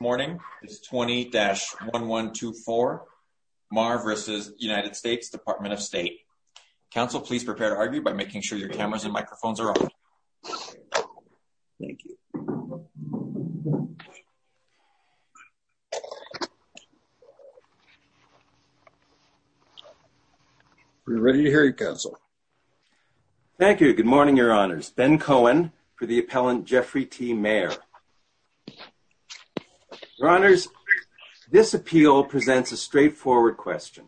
Good morning, this is 20-1124, Meagher v. U.S. Department of State. Council please prepare to argue by making sure your cameras and microphones are on. Thank you. We're ready to hear you, Council. Thank you. Good morning, Your Honors. Ben Cohen for the appellant Jeffrey T. Meagher. Your Honors, this appeal presents a straightforward question.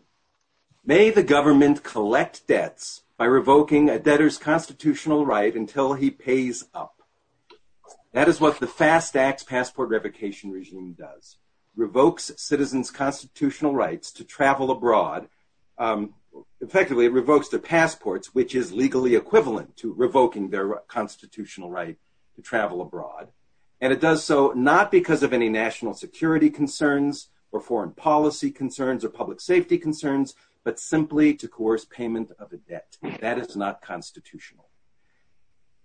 May the government collect debts by revoking a debtor's constitutional right until he pays up? That is what the FASTAX passport revocation regime does. Revokes citizens' constitutional rights to travel abroad, effectively revokes their passports, which is legally equivalent to revoking their constitutional right to travel abroad. And it does so not because of any national security concerns or foreign policy concerns or public safety concerns, but simply to coerce payment of a debt. That is not constitutional.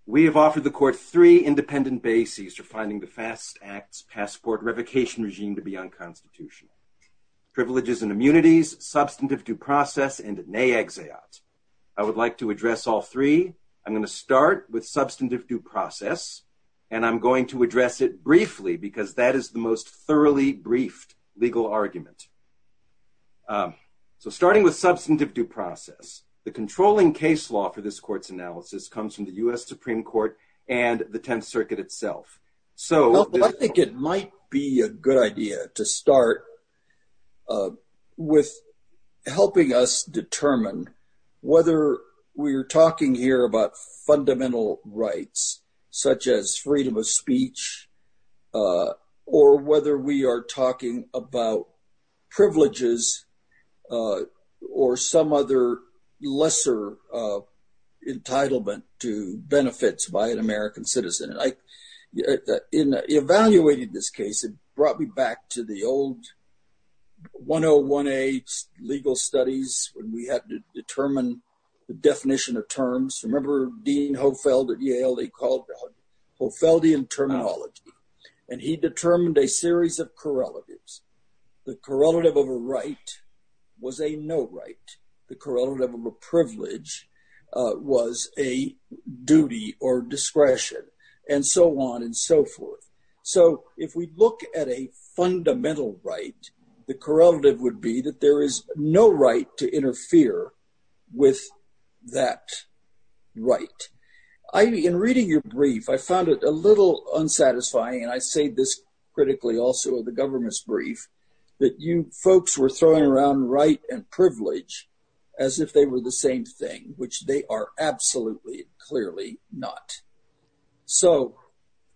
We have offered the court three independent bases for finding the FASTAX passport revocation regime to be unconstitutional. Privileges and immunities, substantive due process, and ne exeat. I would like to address all three. I'm going to start with substantive due process, and I'm going to address it briefly because that is the most thoroughly briefed legal argument. So starting with substantive due process, the controlling case law for this court's analysis comes from the U.S. Supreme Court and the Tenth Circuit itself. So I think it might be a good idea to start with helping us determine whether we're talking here about fundamental rights, such as freedom of speech, or whether we are talking about privileges or some other lesser entitlement to benefits by an American citizen. Evaluating this case, it brought me back to the old 101A legal studies when we had to determine the definition of terms. Remember Dean Hofeld at Yale, they called it Hofeldian terminology, and he determined a series of correlatives. The correlative of a right was a no right. The correlative of a privilege was a duty or discretion, and so on and so forth. So if we look at a fundamental right, the correlative would be that there is no right to interfere with that right. In reading your brief, I found it a little unsatisfying, and I say this critically also the government's brief, that you folks were throwing around right and privilege as if they were the same thing, which they are absolutely clearly not. So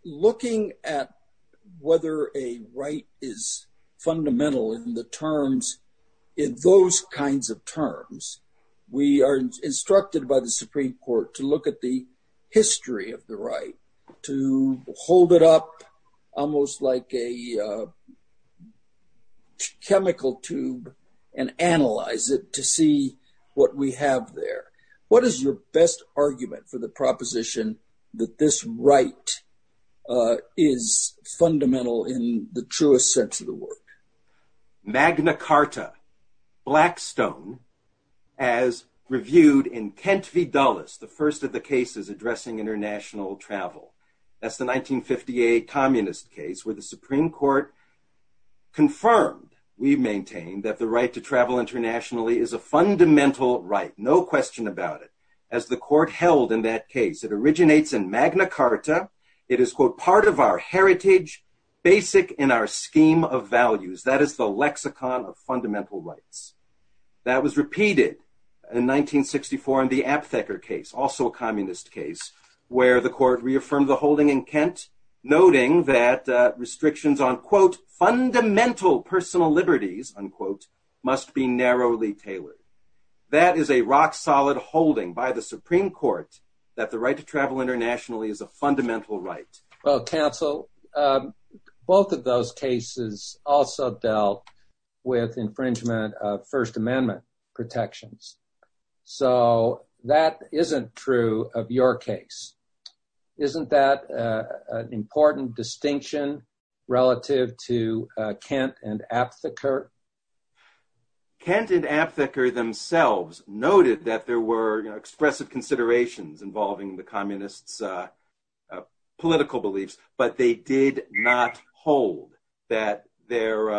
looking at whether a right is fundamental in the terms, in those kinds of terms, we are instructed by the Supreme Court to look at the history of the right, to hold it up almost like a chemical tube and analyze it to see what we have there. What is your best argument for the proposition that this right is fundamental in the truest sense of the word? Magna Carta, Blackstone, as reviewed in Kent v. Dulles, the first of the cases addressing international travel. That's the 1958 communist case where the Supreme Court confirmed, we've maintained, that the right to travel internationally is a fundamental right, no question about it. As the court held in that case, it originates in Magna Carta. It is, quote, part of our heritage, basic in our scheme of values. That is the lexicon of fundamental rights. That was repeated in 1964 in the Aptheker case, also a communist case, where the court reaffirmed the holding in Kent, noting that restrictions on, quote, fundamental personal liberties, unquote, must be narrowly tailored. That is a rock-solid holding by the Supreme Court that the right to travel internationally is a fundamental right. Well, counsel, both of those cases also dealt with infringement of First Amendment protections. So that isn't true of your case. Isn't that an important distinction relative to Kent and Aptheker? Kent and Aptheker themselves noted that there were expressive considerations involving the communists' political beliefs. But they did not hold that their,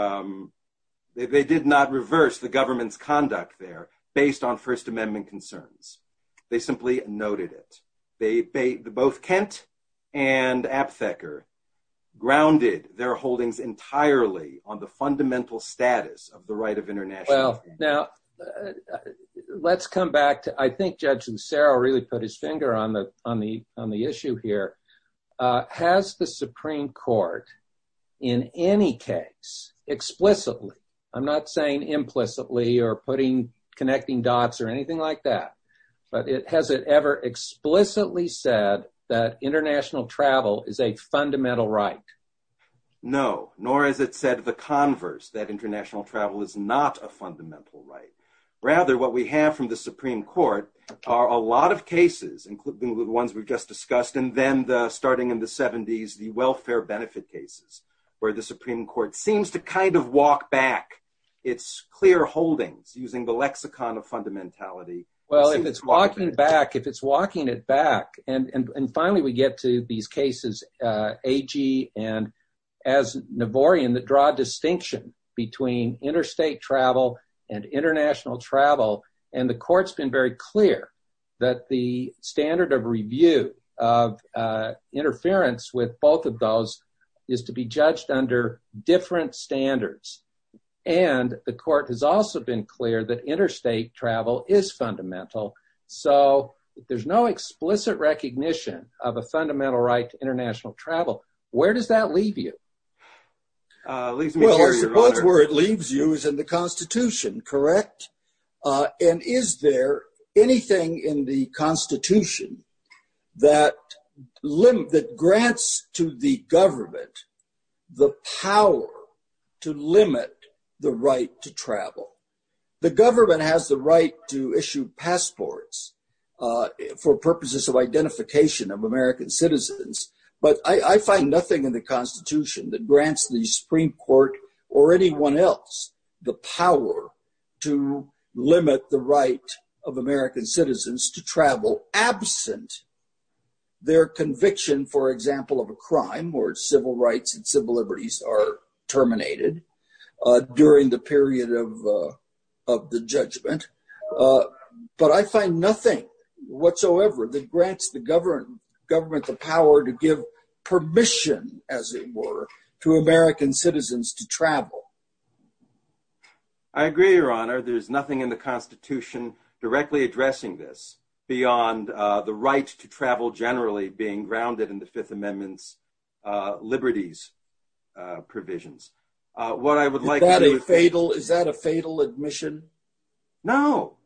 they did not reverse the government's conduct there based on First Amendment concerns. They simply noted it. Both Kent and Aptheker grounded their holdings entirely on the fundamental status of the right of international travel. Now, let's come back to, I think Judge Lucero really put his finger on the issue here. Has the Supreme Court in any case explicitly, I'm not saying implicitly or putting, connecting dots or anything like that, but has it ever explicitly said that international travel is a fundamental right? No, nor has it said the converse, that international travel is not a fundamental right. Rather, what we have from the Supreme Court are a lot of cases, including the ones we've just discussed, and then the starting in the 70s, the welfare benefit cases, where the Well, if it's walking back, if it's walking it back, and finally we get to these cases, Agee and, as Navorian, that draw distinction between interstate travel and international travel, and the court's been very clear that the standard of review of interference with both of those is to be judged under different standards. And the court has also been clear that interstate travel is fundamental. So if there's no explicit recognition of a fundamental right to international travel, where does that leave you? Well, I suppose where it leaves you is in the Constitution, correct? And is there anything in the Constitution that grants to the government the power to limit the right to travel? The government has the right to issue passports for purposes of identification of American citizens, but I find nothing in the Constitution that grants the Supreme Court or anyone else the power to limit the right of American citizens to travel absent their conviction, for example, of a crime where civil rights and civil liberties are terminated during the period of the judgment. But I find nothing whatsoever that grants the government the power to give permission, as it were, to American citizens to travel. I agree, Your Honor. There's nothing in the Constitution directly addressing this beyond the right to travel generally being grounded in the Fifth Amendment's liberties provisions. Is that a fatal admission? No,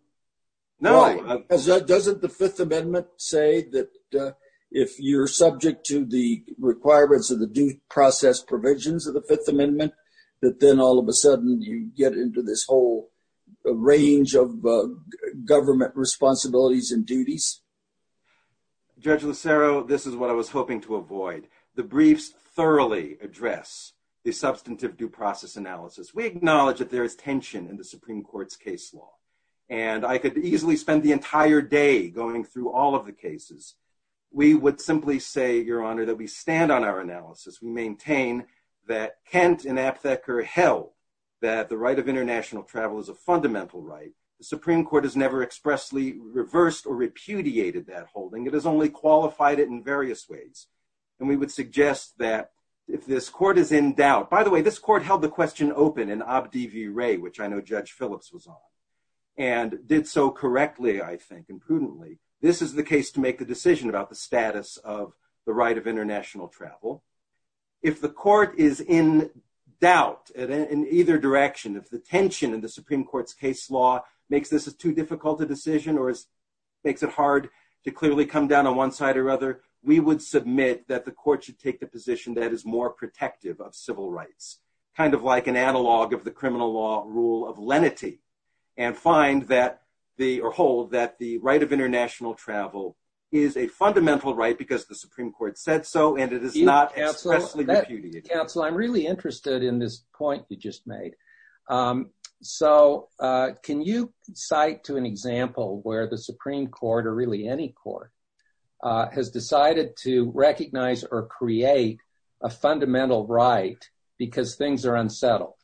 no. Doesn't the Fifth Amendment say that if you're subject to the requirements of the due process provisions of the Fifth Amendment, that then all of a sudden you get into this whole range of government responsibilities and duties? Judge Lucero, this is what I was hoping to avoid. The briefs thoroughly address the substantive due process analysis. We acknowledge that there is tension in the Supreme Court's case law, and I could easily spend the entire day going through all of the cases. We would simply say, Your Honor, that we stand on our analysis. We maintain that Kent and Aptheker held that the right of international travel is a fundamental right. The Supreme Court has never expressly reversed or repudiated that holding. It has only qualified it in various ways. And we would suggest that if this Court is in doubt— by the way, this Court held the question open in Obd v. Wray, which I know Judge Phillips was on, and did so correctly, I think, and prudently. This is the case to make the decision about the status of the right of international travel. If the Court is in doubt in either direction, if the tension in the Supreme Court's case law makes this a too difficult a decision or makes it hard to clearly come down on one side or other, we would submit that the Court should take the position that is more protective of civil rights, kind of like an analog of the criminal law rule of lenity, and find that or hold that the right of international travel is a fundamental right because the Supreme Court said so, and it is not expressly repudiated. Counsel, I'm really interested in this point you just made. So, can you cite to an example where the Supreme Court, or really any Court, has decided to recognize or create a fundamental right because things are unsettled?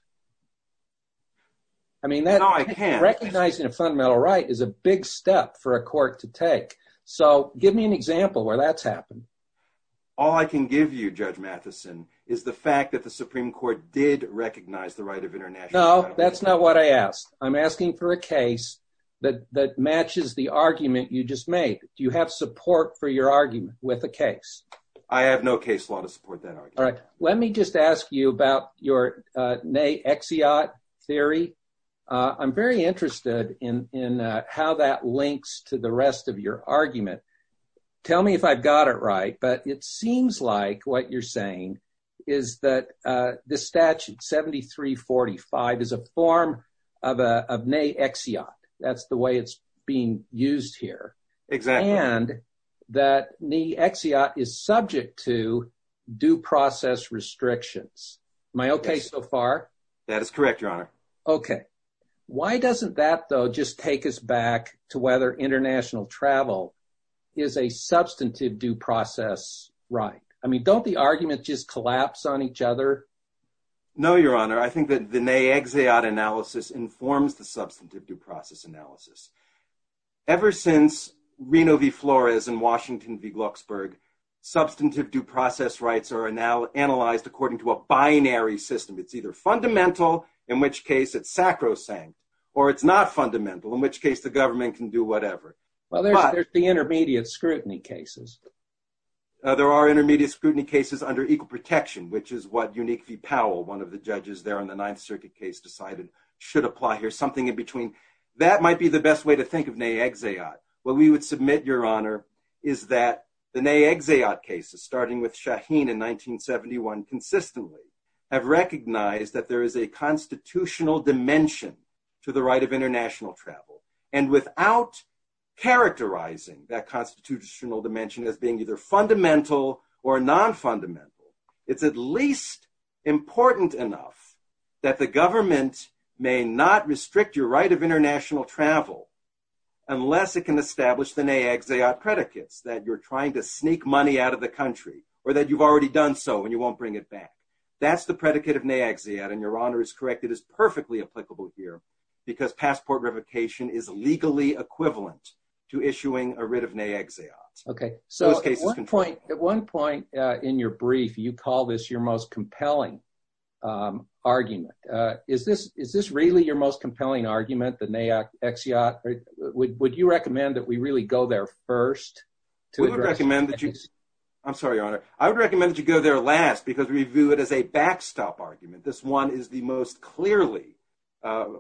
I mean, recognizing a fundamental right is a big step for a Court to take. So, give me an example where that's happened. All I can give you, Judge Matheson, is the fact that the Supreme Court did recognize the right of international travel. No, that's not what I asked. I'm asking for a case that matches the argument you just made. Do you have support for your argument with a case? I have no case law to support that argument. All right. Let me just ask you about your naysayot theory. I'm very interested in how that links to the rest of your argument. Tell me if I've got it right, but it seems like what you're saying is that the statute 7345 is a form of a naysayot. That's the way it's being used here. Exactly. And that naysayot is subject to due process restrictions. Am I okay so far? That is correct, Your Honor. Okay. Why doesn't that, though, just take us back to whether international travel is a substantive due process right? Don't the arguments just collapse on each other? No, Your Honor. I think that the naysayot analysis informs the substantive due process analysis. Ever since Reno v. Flores and Washington v. Glucksburg, substantive due process rights are now analyzed according to a binary system. It's either fundamental, in which case it's sacrosanct, or it's not fundamental, in which case the government can do whatever. Well, there's the intermediate scrutiny cases. Uh, there are intermediate scrutiny cases under equal protection, which is what Unique v. Powell, one of the judges there on the Ninth Circuit case, decided should apply here. Something in between. That might be the best way to think of naysayot. What we would submit, Your Honor, is that the naysayot cases, starting with Shaheen in 1971, consistently have recognized that there is a constitutional dimension to the right of international travel. And without characterizing that constitutional dimension as being either fundamental or non-fundamental, it's at least important enough that the government may not restrict your right of international travel unless it can establish the naysayot predicates that you're trying to sneak money out of the country, or that you've already done so, and you won't bring it back. That's the predicate of naysayot, and Your Honor is correct. It is perfectly applicable here, because passport revocation is legally equivalent to issuing a writ of naysayot. Okay, so at one point in your brief, you call this your most compelling argument. Is this really your most compelling argument, the naysayot? Would you recommend that we really go there first? I'm sorry, Your Honor. I would recommend that you go there last, because we view it as a backstop argument. This one is the most clearly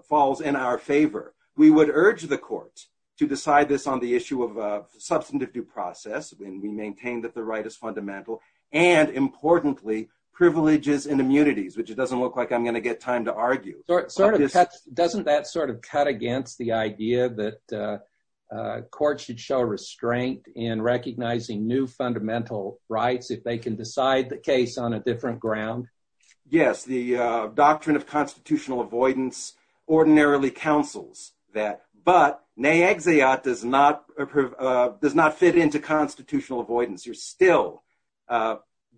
falls in our favor. We would urge the court to decide this on the issue of substantive due process, when we maintain that the right is fundamental, and importantly, privileges and immunities, which it doesn't look like I'm going to get time to argue. Doesn't that sort of cut against the idea that courts should show restraint in recognizing new fundamental rights if they can decide the case on a different ground? Yes, the doctrine of constitutional avoidance ordinarily counsels that, but naysayot does not fit into constitutional avoidance. You're still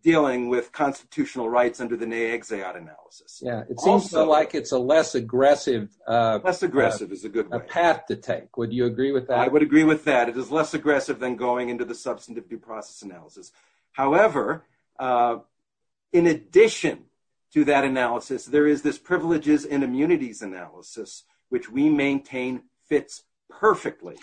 dealing with constitutional rights under the naysayot analysis. Yeah, it seems like it's a less aggressive path to take. Would you agree with that? I would agree with that. It is less aggressive than going into the substantive due process analysis. However, in addition to that analysis, there is this privileges and immunities analysis, which we maintain fits perfectly.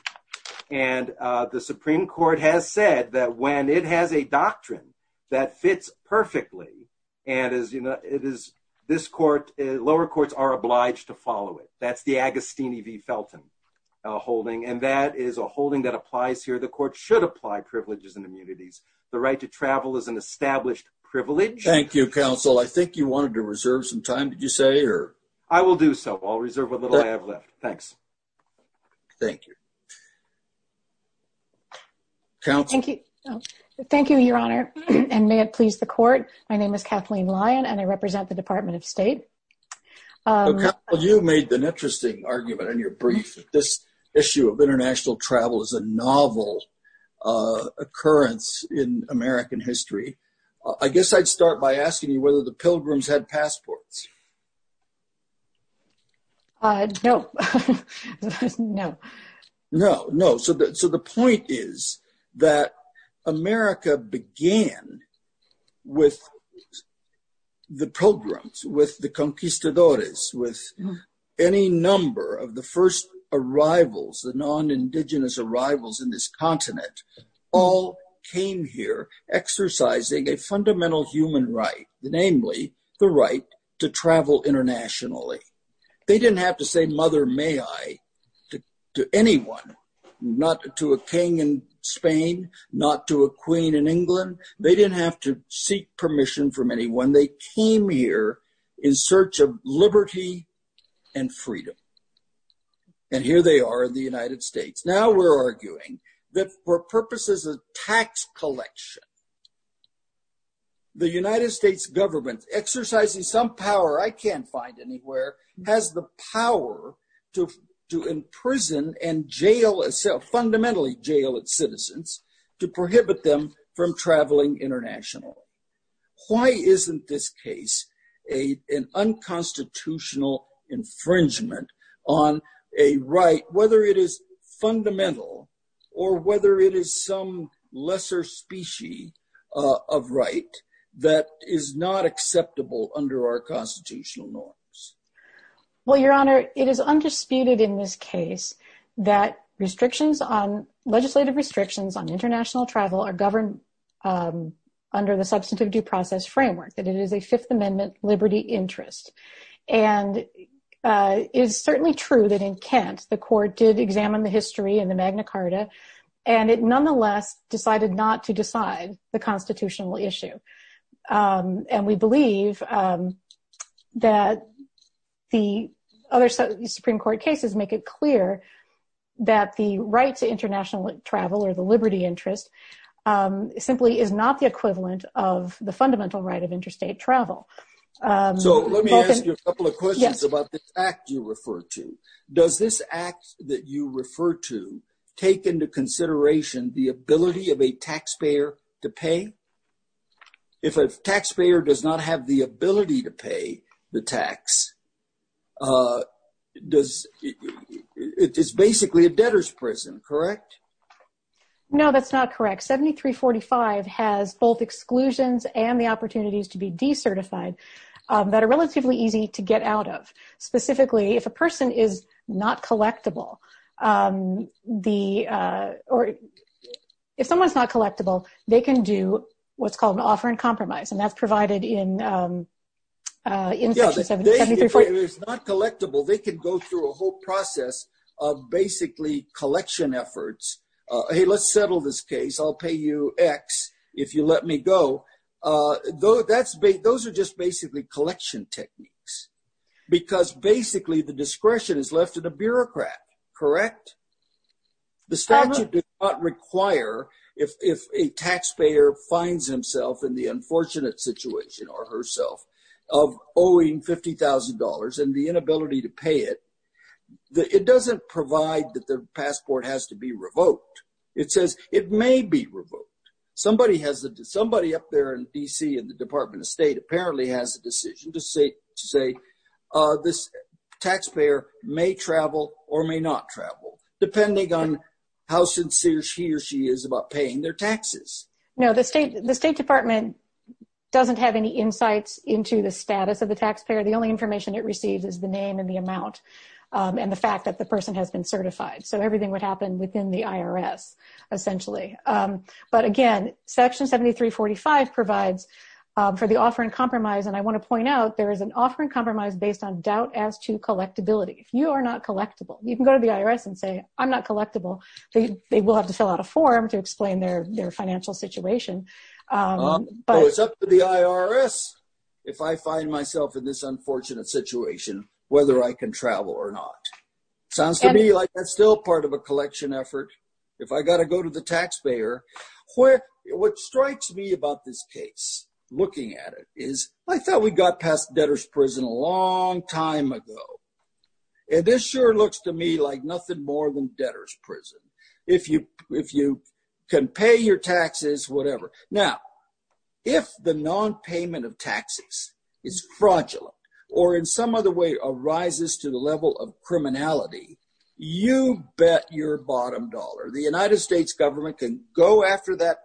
The Supreme Court has said that when it has a doctrine that fits perfectly, lower courts are obliged to follow it. That's the Agostini v. Felton holding, and that is a holding that applies here. The court should apply privileges and immunities. The right to travel is an established privilege. Thank you, counsel. I think you wanted to reserve some time, did you say, or? I will do so. I'll reserve what little I have left. Thanks. Thank you. Counsel? Thank you, Your Honor, and may it please the court. My name is Kathleen Lyon, and I represent the Department of State. You made an interesting argument in your brief. This issue of international travel is a novel occurrence in American history. I guess I'd start by asking you whether the pilgrims had passports. No. No. No, no. So the point is that America began with the pilgrims, with the conquistadores, with any number of the first arrivals, the non-Indigenous arrivals in this continent, all came here exercising a fundamental human right, namely the right to travel internationally. They didn't have to say, Mother, may I, to anyone, not to a king in Spain, not to a queen in England. They didn't have to seek permission from anyone. They came here in search of liberty and freedom. And here they are in the United States. Now we're arguing that for purposes of tax collection, the United States government, exercising some power I can't find anywhere, has the power to imprison and jail itself, fundamentally jail its citizens, to prohibit them from traveling internationally. Why isn't this case an unconstitutional infringement on a right, whether it is fundamental or whether it is some lesser species of right that is not acceptable under our constitutional norms? Well, Your Honor, it is undisputed in this case that legislative restrictions on international travel are governed under the substantive due process framework, that it is a Fifth Amendment liberty interest. And it is certainly true that in Kent, the court did examine the history and the Magna Carta, and it nonetheless decided not to decide the constitutional issue. And we believe that the other Supreme Court cases make it clear that the right to international travel, or the liberty interest, simply is not the equivalent of the fundamental right of interstate travel. So let me ask you a couple of questions about the act you refer to. Does this act that you refer to take into consideration the ability of a taxpayer to pay? If a taxpayer does not have the ability to pay the tax, it's basically a debtor's prison, correct? No, that's not correct. 7345 has both exclusions and the opportunities to be decertified that are relatively easy to get out of. Specifically, if a person is not collectible, or if someone's not collectible, they can do what's called an offer and compromise. And that's provided in section 7345. If it's not collectible, they can go through a whole process of basically collection efforts. Hey, let's settle this case. I'll pay you x if you let me go. Those are just basically collection techniques. Because basically, the discretion is left to the bureaucrat, correct? The statute does not require, if a taxpayer finds himself in the unfortunate situation or herself of owing $50,000 and the inability to pay it, it doesn't provide that the passport has to be revoked. It says it may be revoked. Somebody up there in D.C. in the Department of State apparently has a decision to say this taxpayer may travel or may not travel, depending on how sincere she or she is about paying their taxes. No, the State Department doesn't have any insights into the status of the taxpayer. The only information it receives is the name and the amount and the fact that the person has been certified. So everything would happen within the IRS, essentially. But again, section 7345 provides for the offer and compromise. And I want to point out, there is an offer and compromise based on doubt as to collectibility. If you are not collectible, you can go to the IRS and say, I'm not collectible. They will have to fill out a form to explain their financial situation. It's up to the IRS if I find myself in this unfortunate situation, whether I can travel or not. Sounds to me like that's still part of a collection effort. If I got to go to the taxpayer, what strikes me about this case, looking at it, is I thought we got past debtor's prison a long time ago. And this sure looks to me like nothing more than debtor's prison. If you can pay your taxes, whatever. Now, if the non-payment of taxes is fraudulent or in some other way arises to the level of criminality, you bet your bottom dollar. The United States government can go after that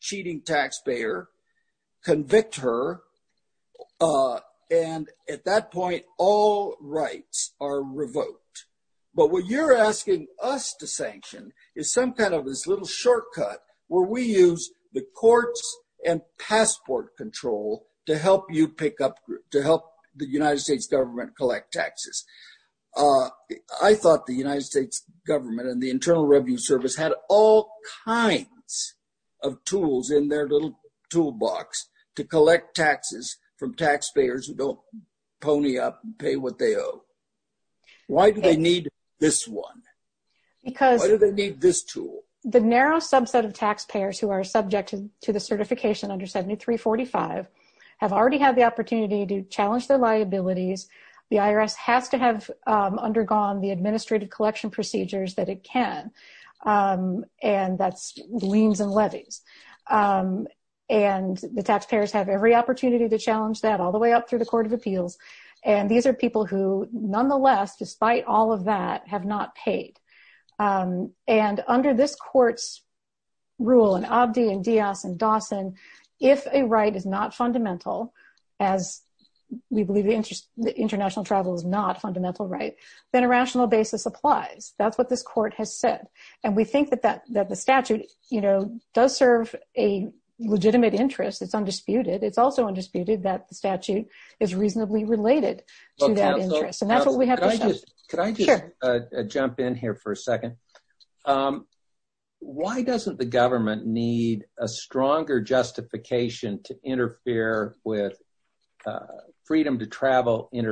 cheating taxpayer, convict her, and at that point, all rights are revoked. But what you're asking us to sanction is some kind of this little shortcut where we use the courts and passport control to help you pick up, to help the United States government collect taxes. I thought the United States government and the Internal Revenue Service had all kinds of tools in their little toolbox to collect taxes from taxpayers who don't pony up and pay what they owe. Why do they need this one? Why do they need this tool? The narrow subset of taxpayers who are subject to the certification under 7345 have already had the opportunity to challenge their liabilities. The IRS has to have undergone the administrative collection procedures that it can. And that's liens and levies. And the taxpayers have every opportunity to challenge that all the way up through the Court of Appeals. And these are people who, nonetheless, despite all of that, have not paid. And under this court's rule, and Abdi and Diaz and Dawson, if a right is not fundamental, as we believe international travel is not a fundamental right, then a rational basis applies. That's what this court has said. And we think that the statute does serve a legitimate interest. It's undisputed. It's also undisputed that the statute is reasonably related to that interest. And that's what we have to say. Can I just jump in here for a second? Why doesn't the government need a stronger justification to interfere with freedom to go to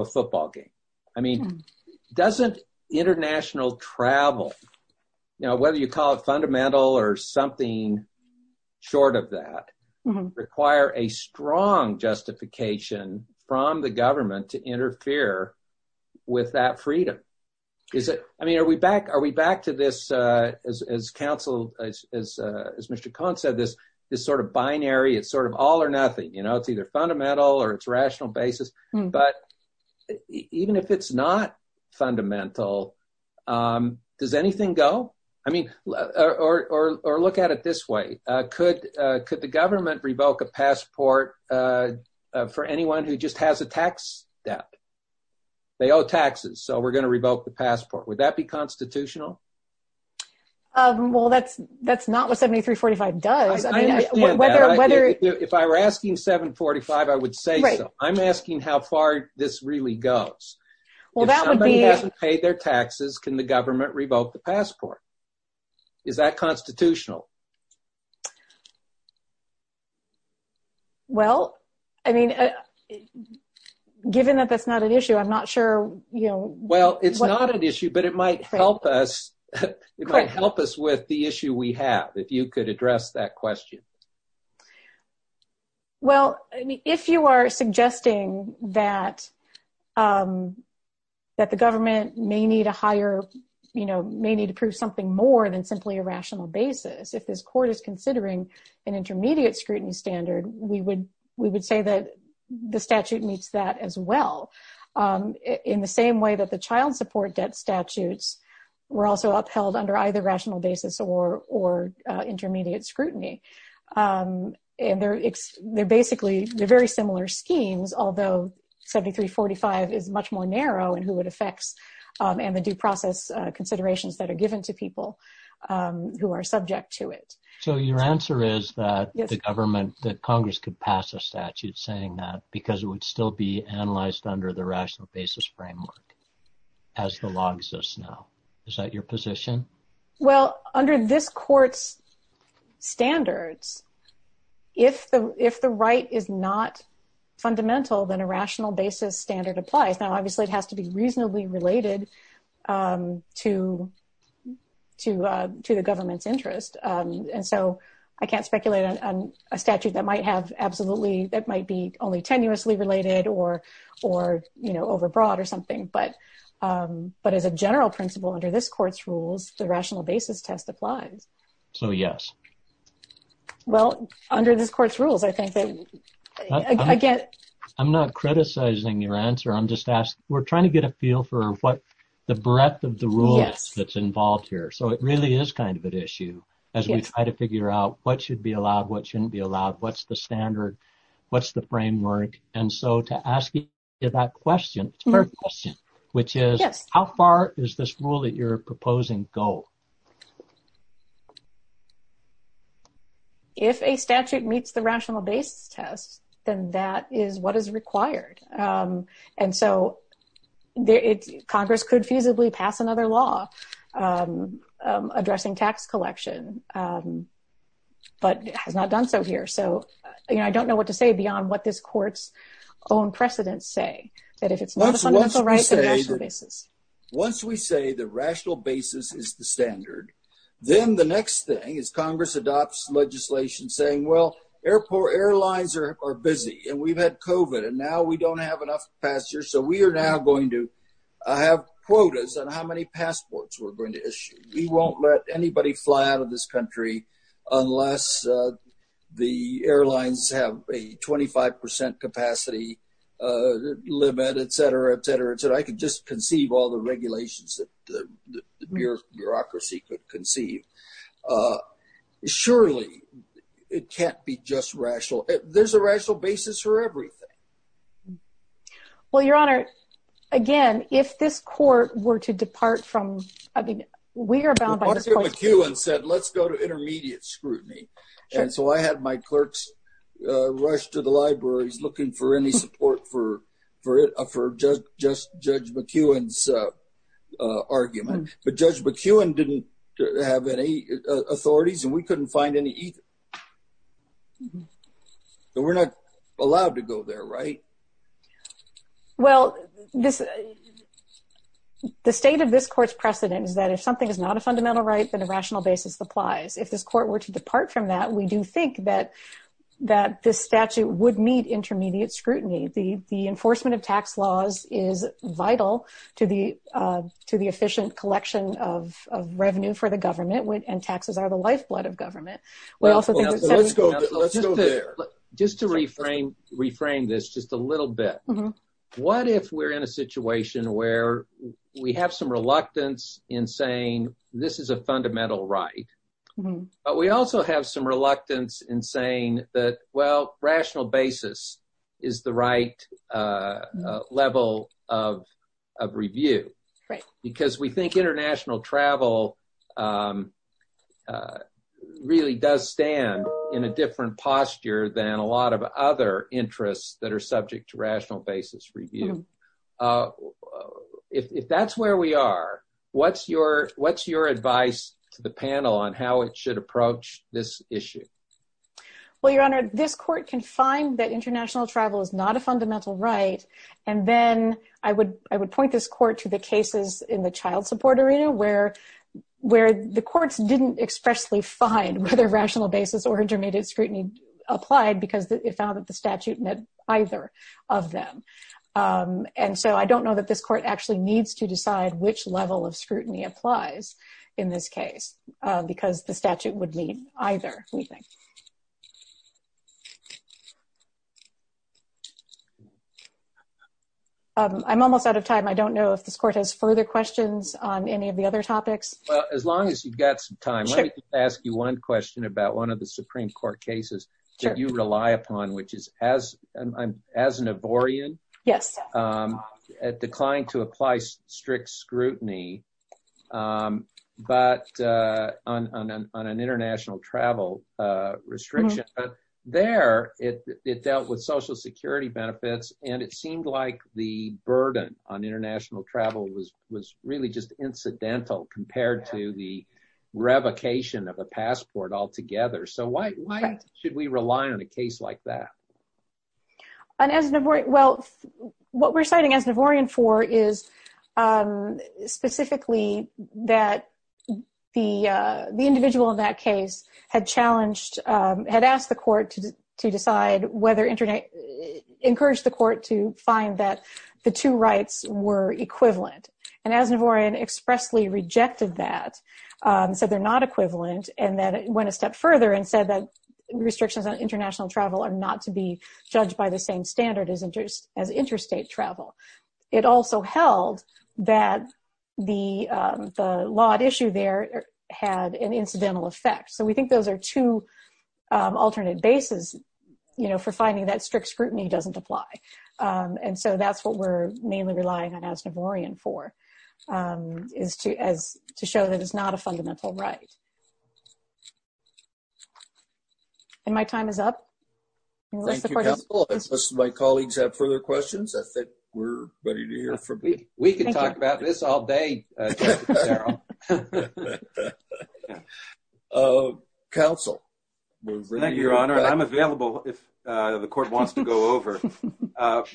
a football game? I mean, doesn't international travel, whether you call it fundamental or something short of that, require a strong justification from the government to interfere with that freedom? I mean, are we back to this, as counsel, as Mr. Cohen said, this sort of binary, it's sort of all or nothing. It's either fundamental or it's rational basis. But even if it's not fundamental, does anything go? I mean, or look at it this way. Could the government revoke a passport for anyone who just has a tax debt? They owe taxes. So we're going to revoke the passport. Would that be constitutional? Well, that's not what 7345 does. I understand that. If I were asking 745, I would say so. I'm asking how far this really goes. Well, that would be pay their taxes. Can the government revoke the passport? Is that constitutional? Well, I mean, given that that's not an issue, I'm not sure. Well, it's not an issue, but it might help us. It might help us with the issue we have. If you could address that question. Well, I mean, if you are suggesting that the government may need a higher, you know, may need to prove something more than simply a rational basis, if this court is considering an intermediate scrutiny standard, we would say that the statute meets that as well. In the same way that the child support debt statutes were also upheld under either rational basis or intermediate scrutiny. And they're basically, they're very similar schemes, although 7345 is much more narrow in who it affects and the due process considerations that are given to people who are subject to it. So your answer is that the government, that Congress could pass a statute saying that because it would still be analyzed under the rational basis framework, as the law exists now. Is that your position? Well, under this court's standards, if the right is not fundamental, then a rational basis standard applies. Now, obviously, it has to be reasonably related to the government's interest. And so I can't speculate on a statute that might have absolutely, that might be only tenuously related or, you know, overbroad or something. But as a general principle, under this court's rules, the rational basis test applies. So, yes. Well, under this court's rules, I think that I get... I'm not criticizing your answer. I'm just asking, we're trying to get a feel for what the breadth of the rules that's involved here. So it really is kind of an issue as we try to figure out what should be allowed, what shouldn't be allowed, what's the standard, what's the framework. And so to ask you that question, third question, which is how far is this rule that you're proposing go? If a statute meets the rational basis test, then that is what is required. And so Congress could feasibly pass another law addressing tax collection, but has not done so here. I don't know what to say beyond what this court's own precedents say. Once we say the rational basis is the standard, then the next thing is Congress adopts legislation saying, well, airport airlines are busy and we've had COVID and now we don't have enough passengers. So we are now going to have quotas on how many passports we're going to issue. We won't let anybody fly out of this country unless the airlines have a 25% capacity limit, et cetera, et cetera, et cetera. I could just conceive all the regulations that the bureaucracy could conceive. Surely it can't be just rational. There's a rational basis for everything. Well, Your Honor, again, if this court were to depart from, I mean, we are bound by this court's precedents. Arthur McEwen said, let's go to intermediate scrutiny. And so I had my clerks rush to the libraries looking for any support for Judge McEwen's argument. But Judge McEwen didn't have any authorities and we couldn't find any either. So we're not allowed to go there, right? Well, the state of this court's precedent is that if something is not a fundamental right, then a rational basis applies. If this court were to depart from that, we do think that this statute would meet intermediate scrutiny. The enforcement of tax laws is vital to the efficient collection of revenue for the government and taxes are the lifeblood of government. Well, let's go there. Just to reframe this just a little bit, what if we're in a situation where we have some reluctance in saying this is a fundamental right, but we also have some reluctance in saying that, well, rational basis is the right level of review. Right. We think international travel really does stand in a different posture than a lot of other interests that are subject to rational basis review. If that's where we are, what's your advice to the panel on how it should approach this issue? Well, Your Honor, this court can find that international travel is not a fundamental right and then I would point this court to the cases in the child support arena where the courts didn't expressly find whether rational basis or intermediate scrutiny applied because it found that the statute met either of them. I don't know that this court actually needs to decide which level of scrutiny applies in this case because the statute would meet either, we think. I'm almost out of time. I don't know if this court has further questions on any of the other topics. Well, as long as you've got some time, let me just ask you one question about one of the Supreme Court cases that you rely upon, which is as an avarian, it declined to apply strict scrutiny on an international travel restriction. There, it dealt with social security benefits and it seemed like the burden on international travel was really just incidental compared to the revocation of a passport altogether. So why should we rely on a case like that? Well, what we're citing as an avarian for is specifically that the individual in that case had challenged, had asked the court to decide whether internet encouraged the court to find that the two rights were equivalent. And as an avarian expressly rejected that, said they're not equivalent. And then it went a step further and said that restrictions on international travel are not to be judged by the same standard as interest as interstate travel. It also held that the lot issue there had an incidental effect. We think those are two alternate bases for finding that strict scrutiny doesn't apply. So that's what we're mainly relying on as an avarian for, is to show that it's not a fundamental right. And my time is up. Thank you, counsel. Unless my colleagues have further questions, I think we're ready to hear from you. We could talk about this all day. Counsel. Thank you, your honor. I'm available if the court wants to go over.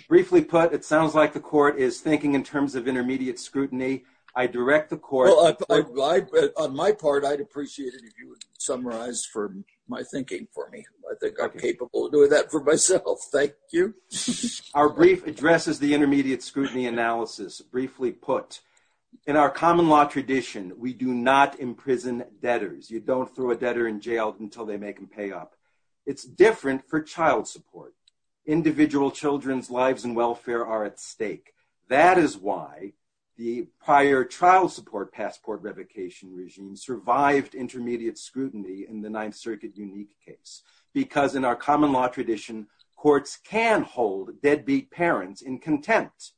Briefly put, it sounds like the court is thinking in terms of intermediate scrutiny. I direct the court. On my part, I'd appreciate it if you would summarize for my thinking for me. I think I'm capable of doing that for myself. Thank you. Our brief addresses the intermediate scrutiny analysis. Briefly put, in our common law tradition, we do not imprison debtors. You don't throw a debtor in jail until they make them pay up. It's different for child support. Individual children's lives and welfare are at stake. That is why the prior child support passport revocation regime survived intermediate scrutiny in the Ninth Circuit unique case. Because in our common law tradition, courts can hold deadbeat parents in contempt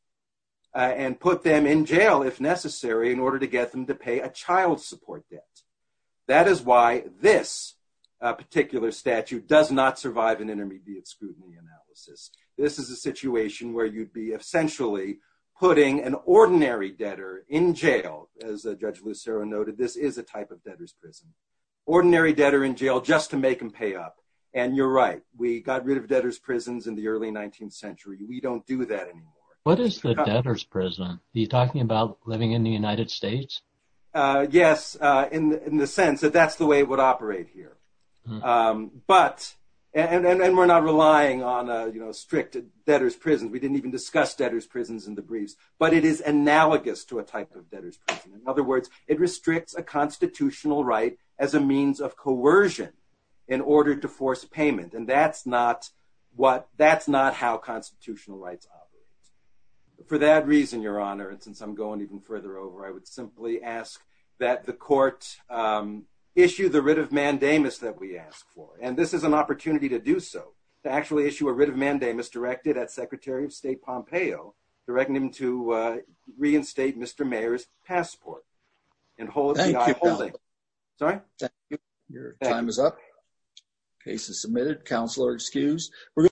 and put them in jail if necessary in order to get them to pay a child support debt. That is why this particular statute does not survive an intermediate scrutiny analysis. This is a situation where you'd be essentially putting an ordinary debtor in jail. As Judge Lucero noted, this is a type of debtor's prison. Ordinary debtor in jail just to make them pay up. And you're right. We got rid of debtor's prisons in the early 19th century. We don't do that anymore. What is the debtor's prison? Are you talking about living in the United States? Yes, in the sense that that's the way it would operate here. And we're not relying on strict debtor's prisons. We didn't even discuss debtor's prisons in the briefs. But it is analogous to a type of debtor's prison. In other words, it restricts a constitutional right as a means of coercion in order to force payment. And that's not how constitutional rights operate. For that reason, Your Honor, and since I'm going even further over, I would simply ask that the court issue the writ of mandamus that we asked for. And this is an opportunity to do so. To actually issue a writ of mandamus directed at Secretary of State Pompeo, directing him to reinstate Mr. Mayer's passport. Thank you, Your Honor. Sorry? Your time is up. Case is submitted. Counselor excused.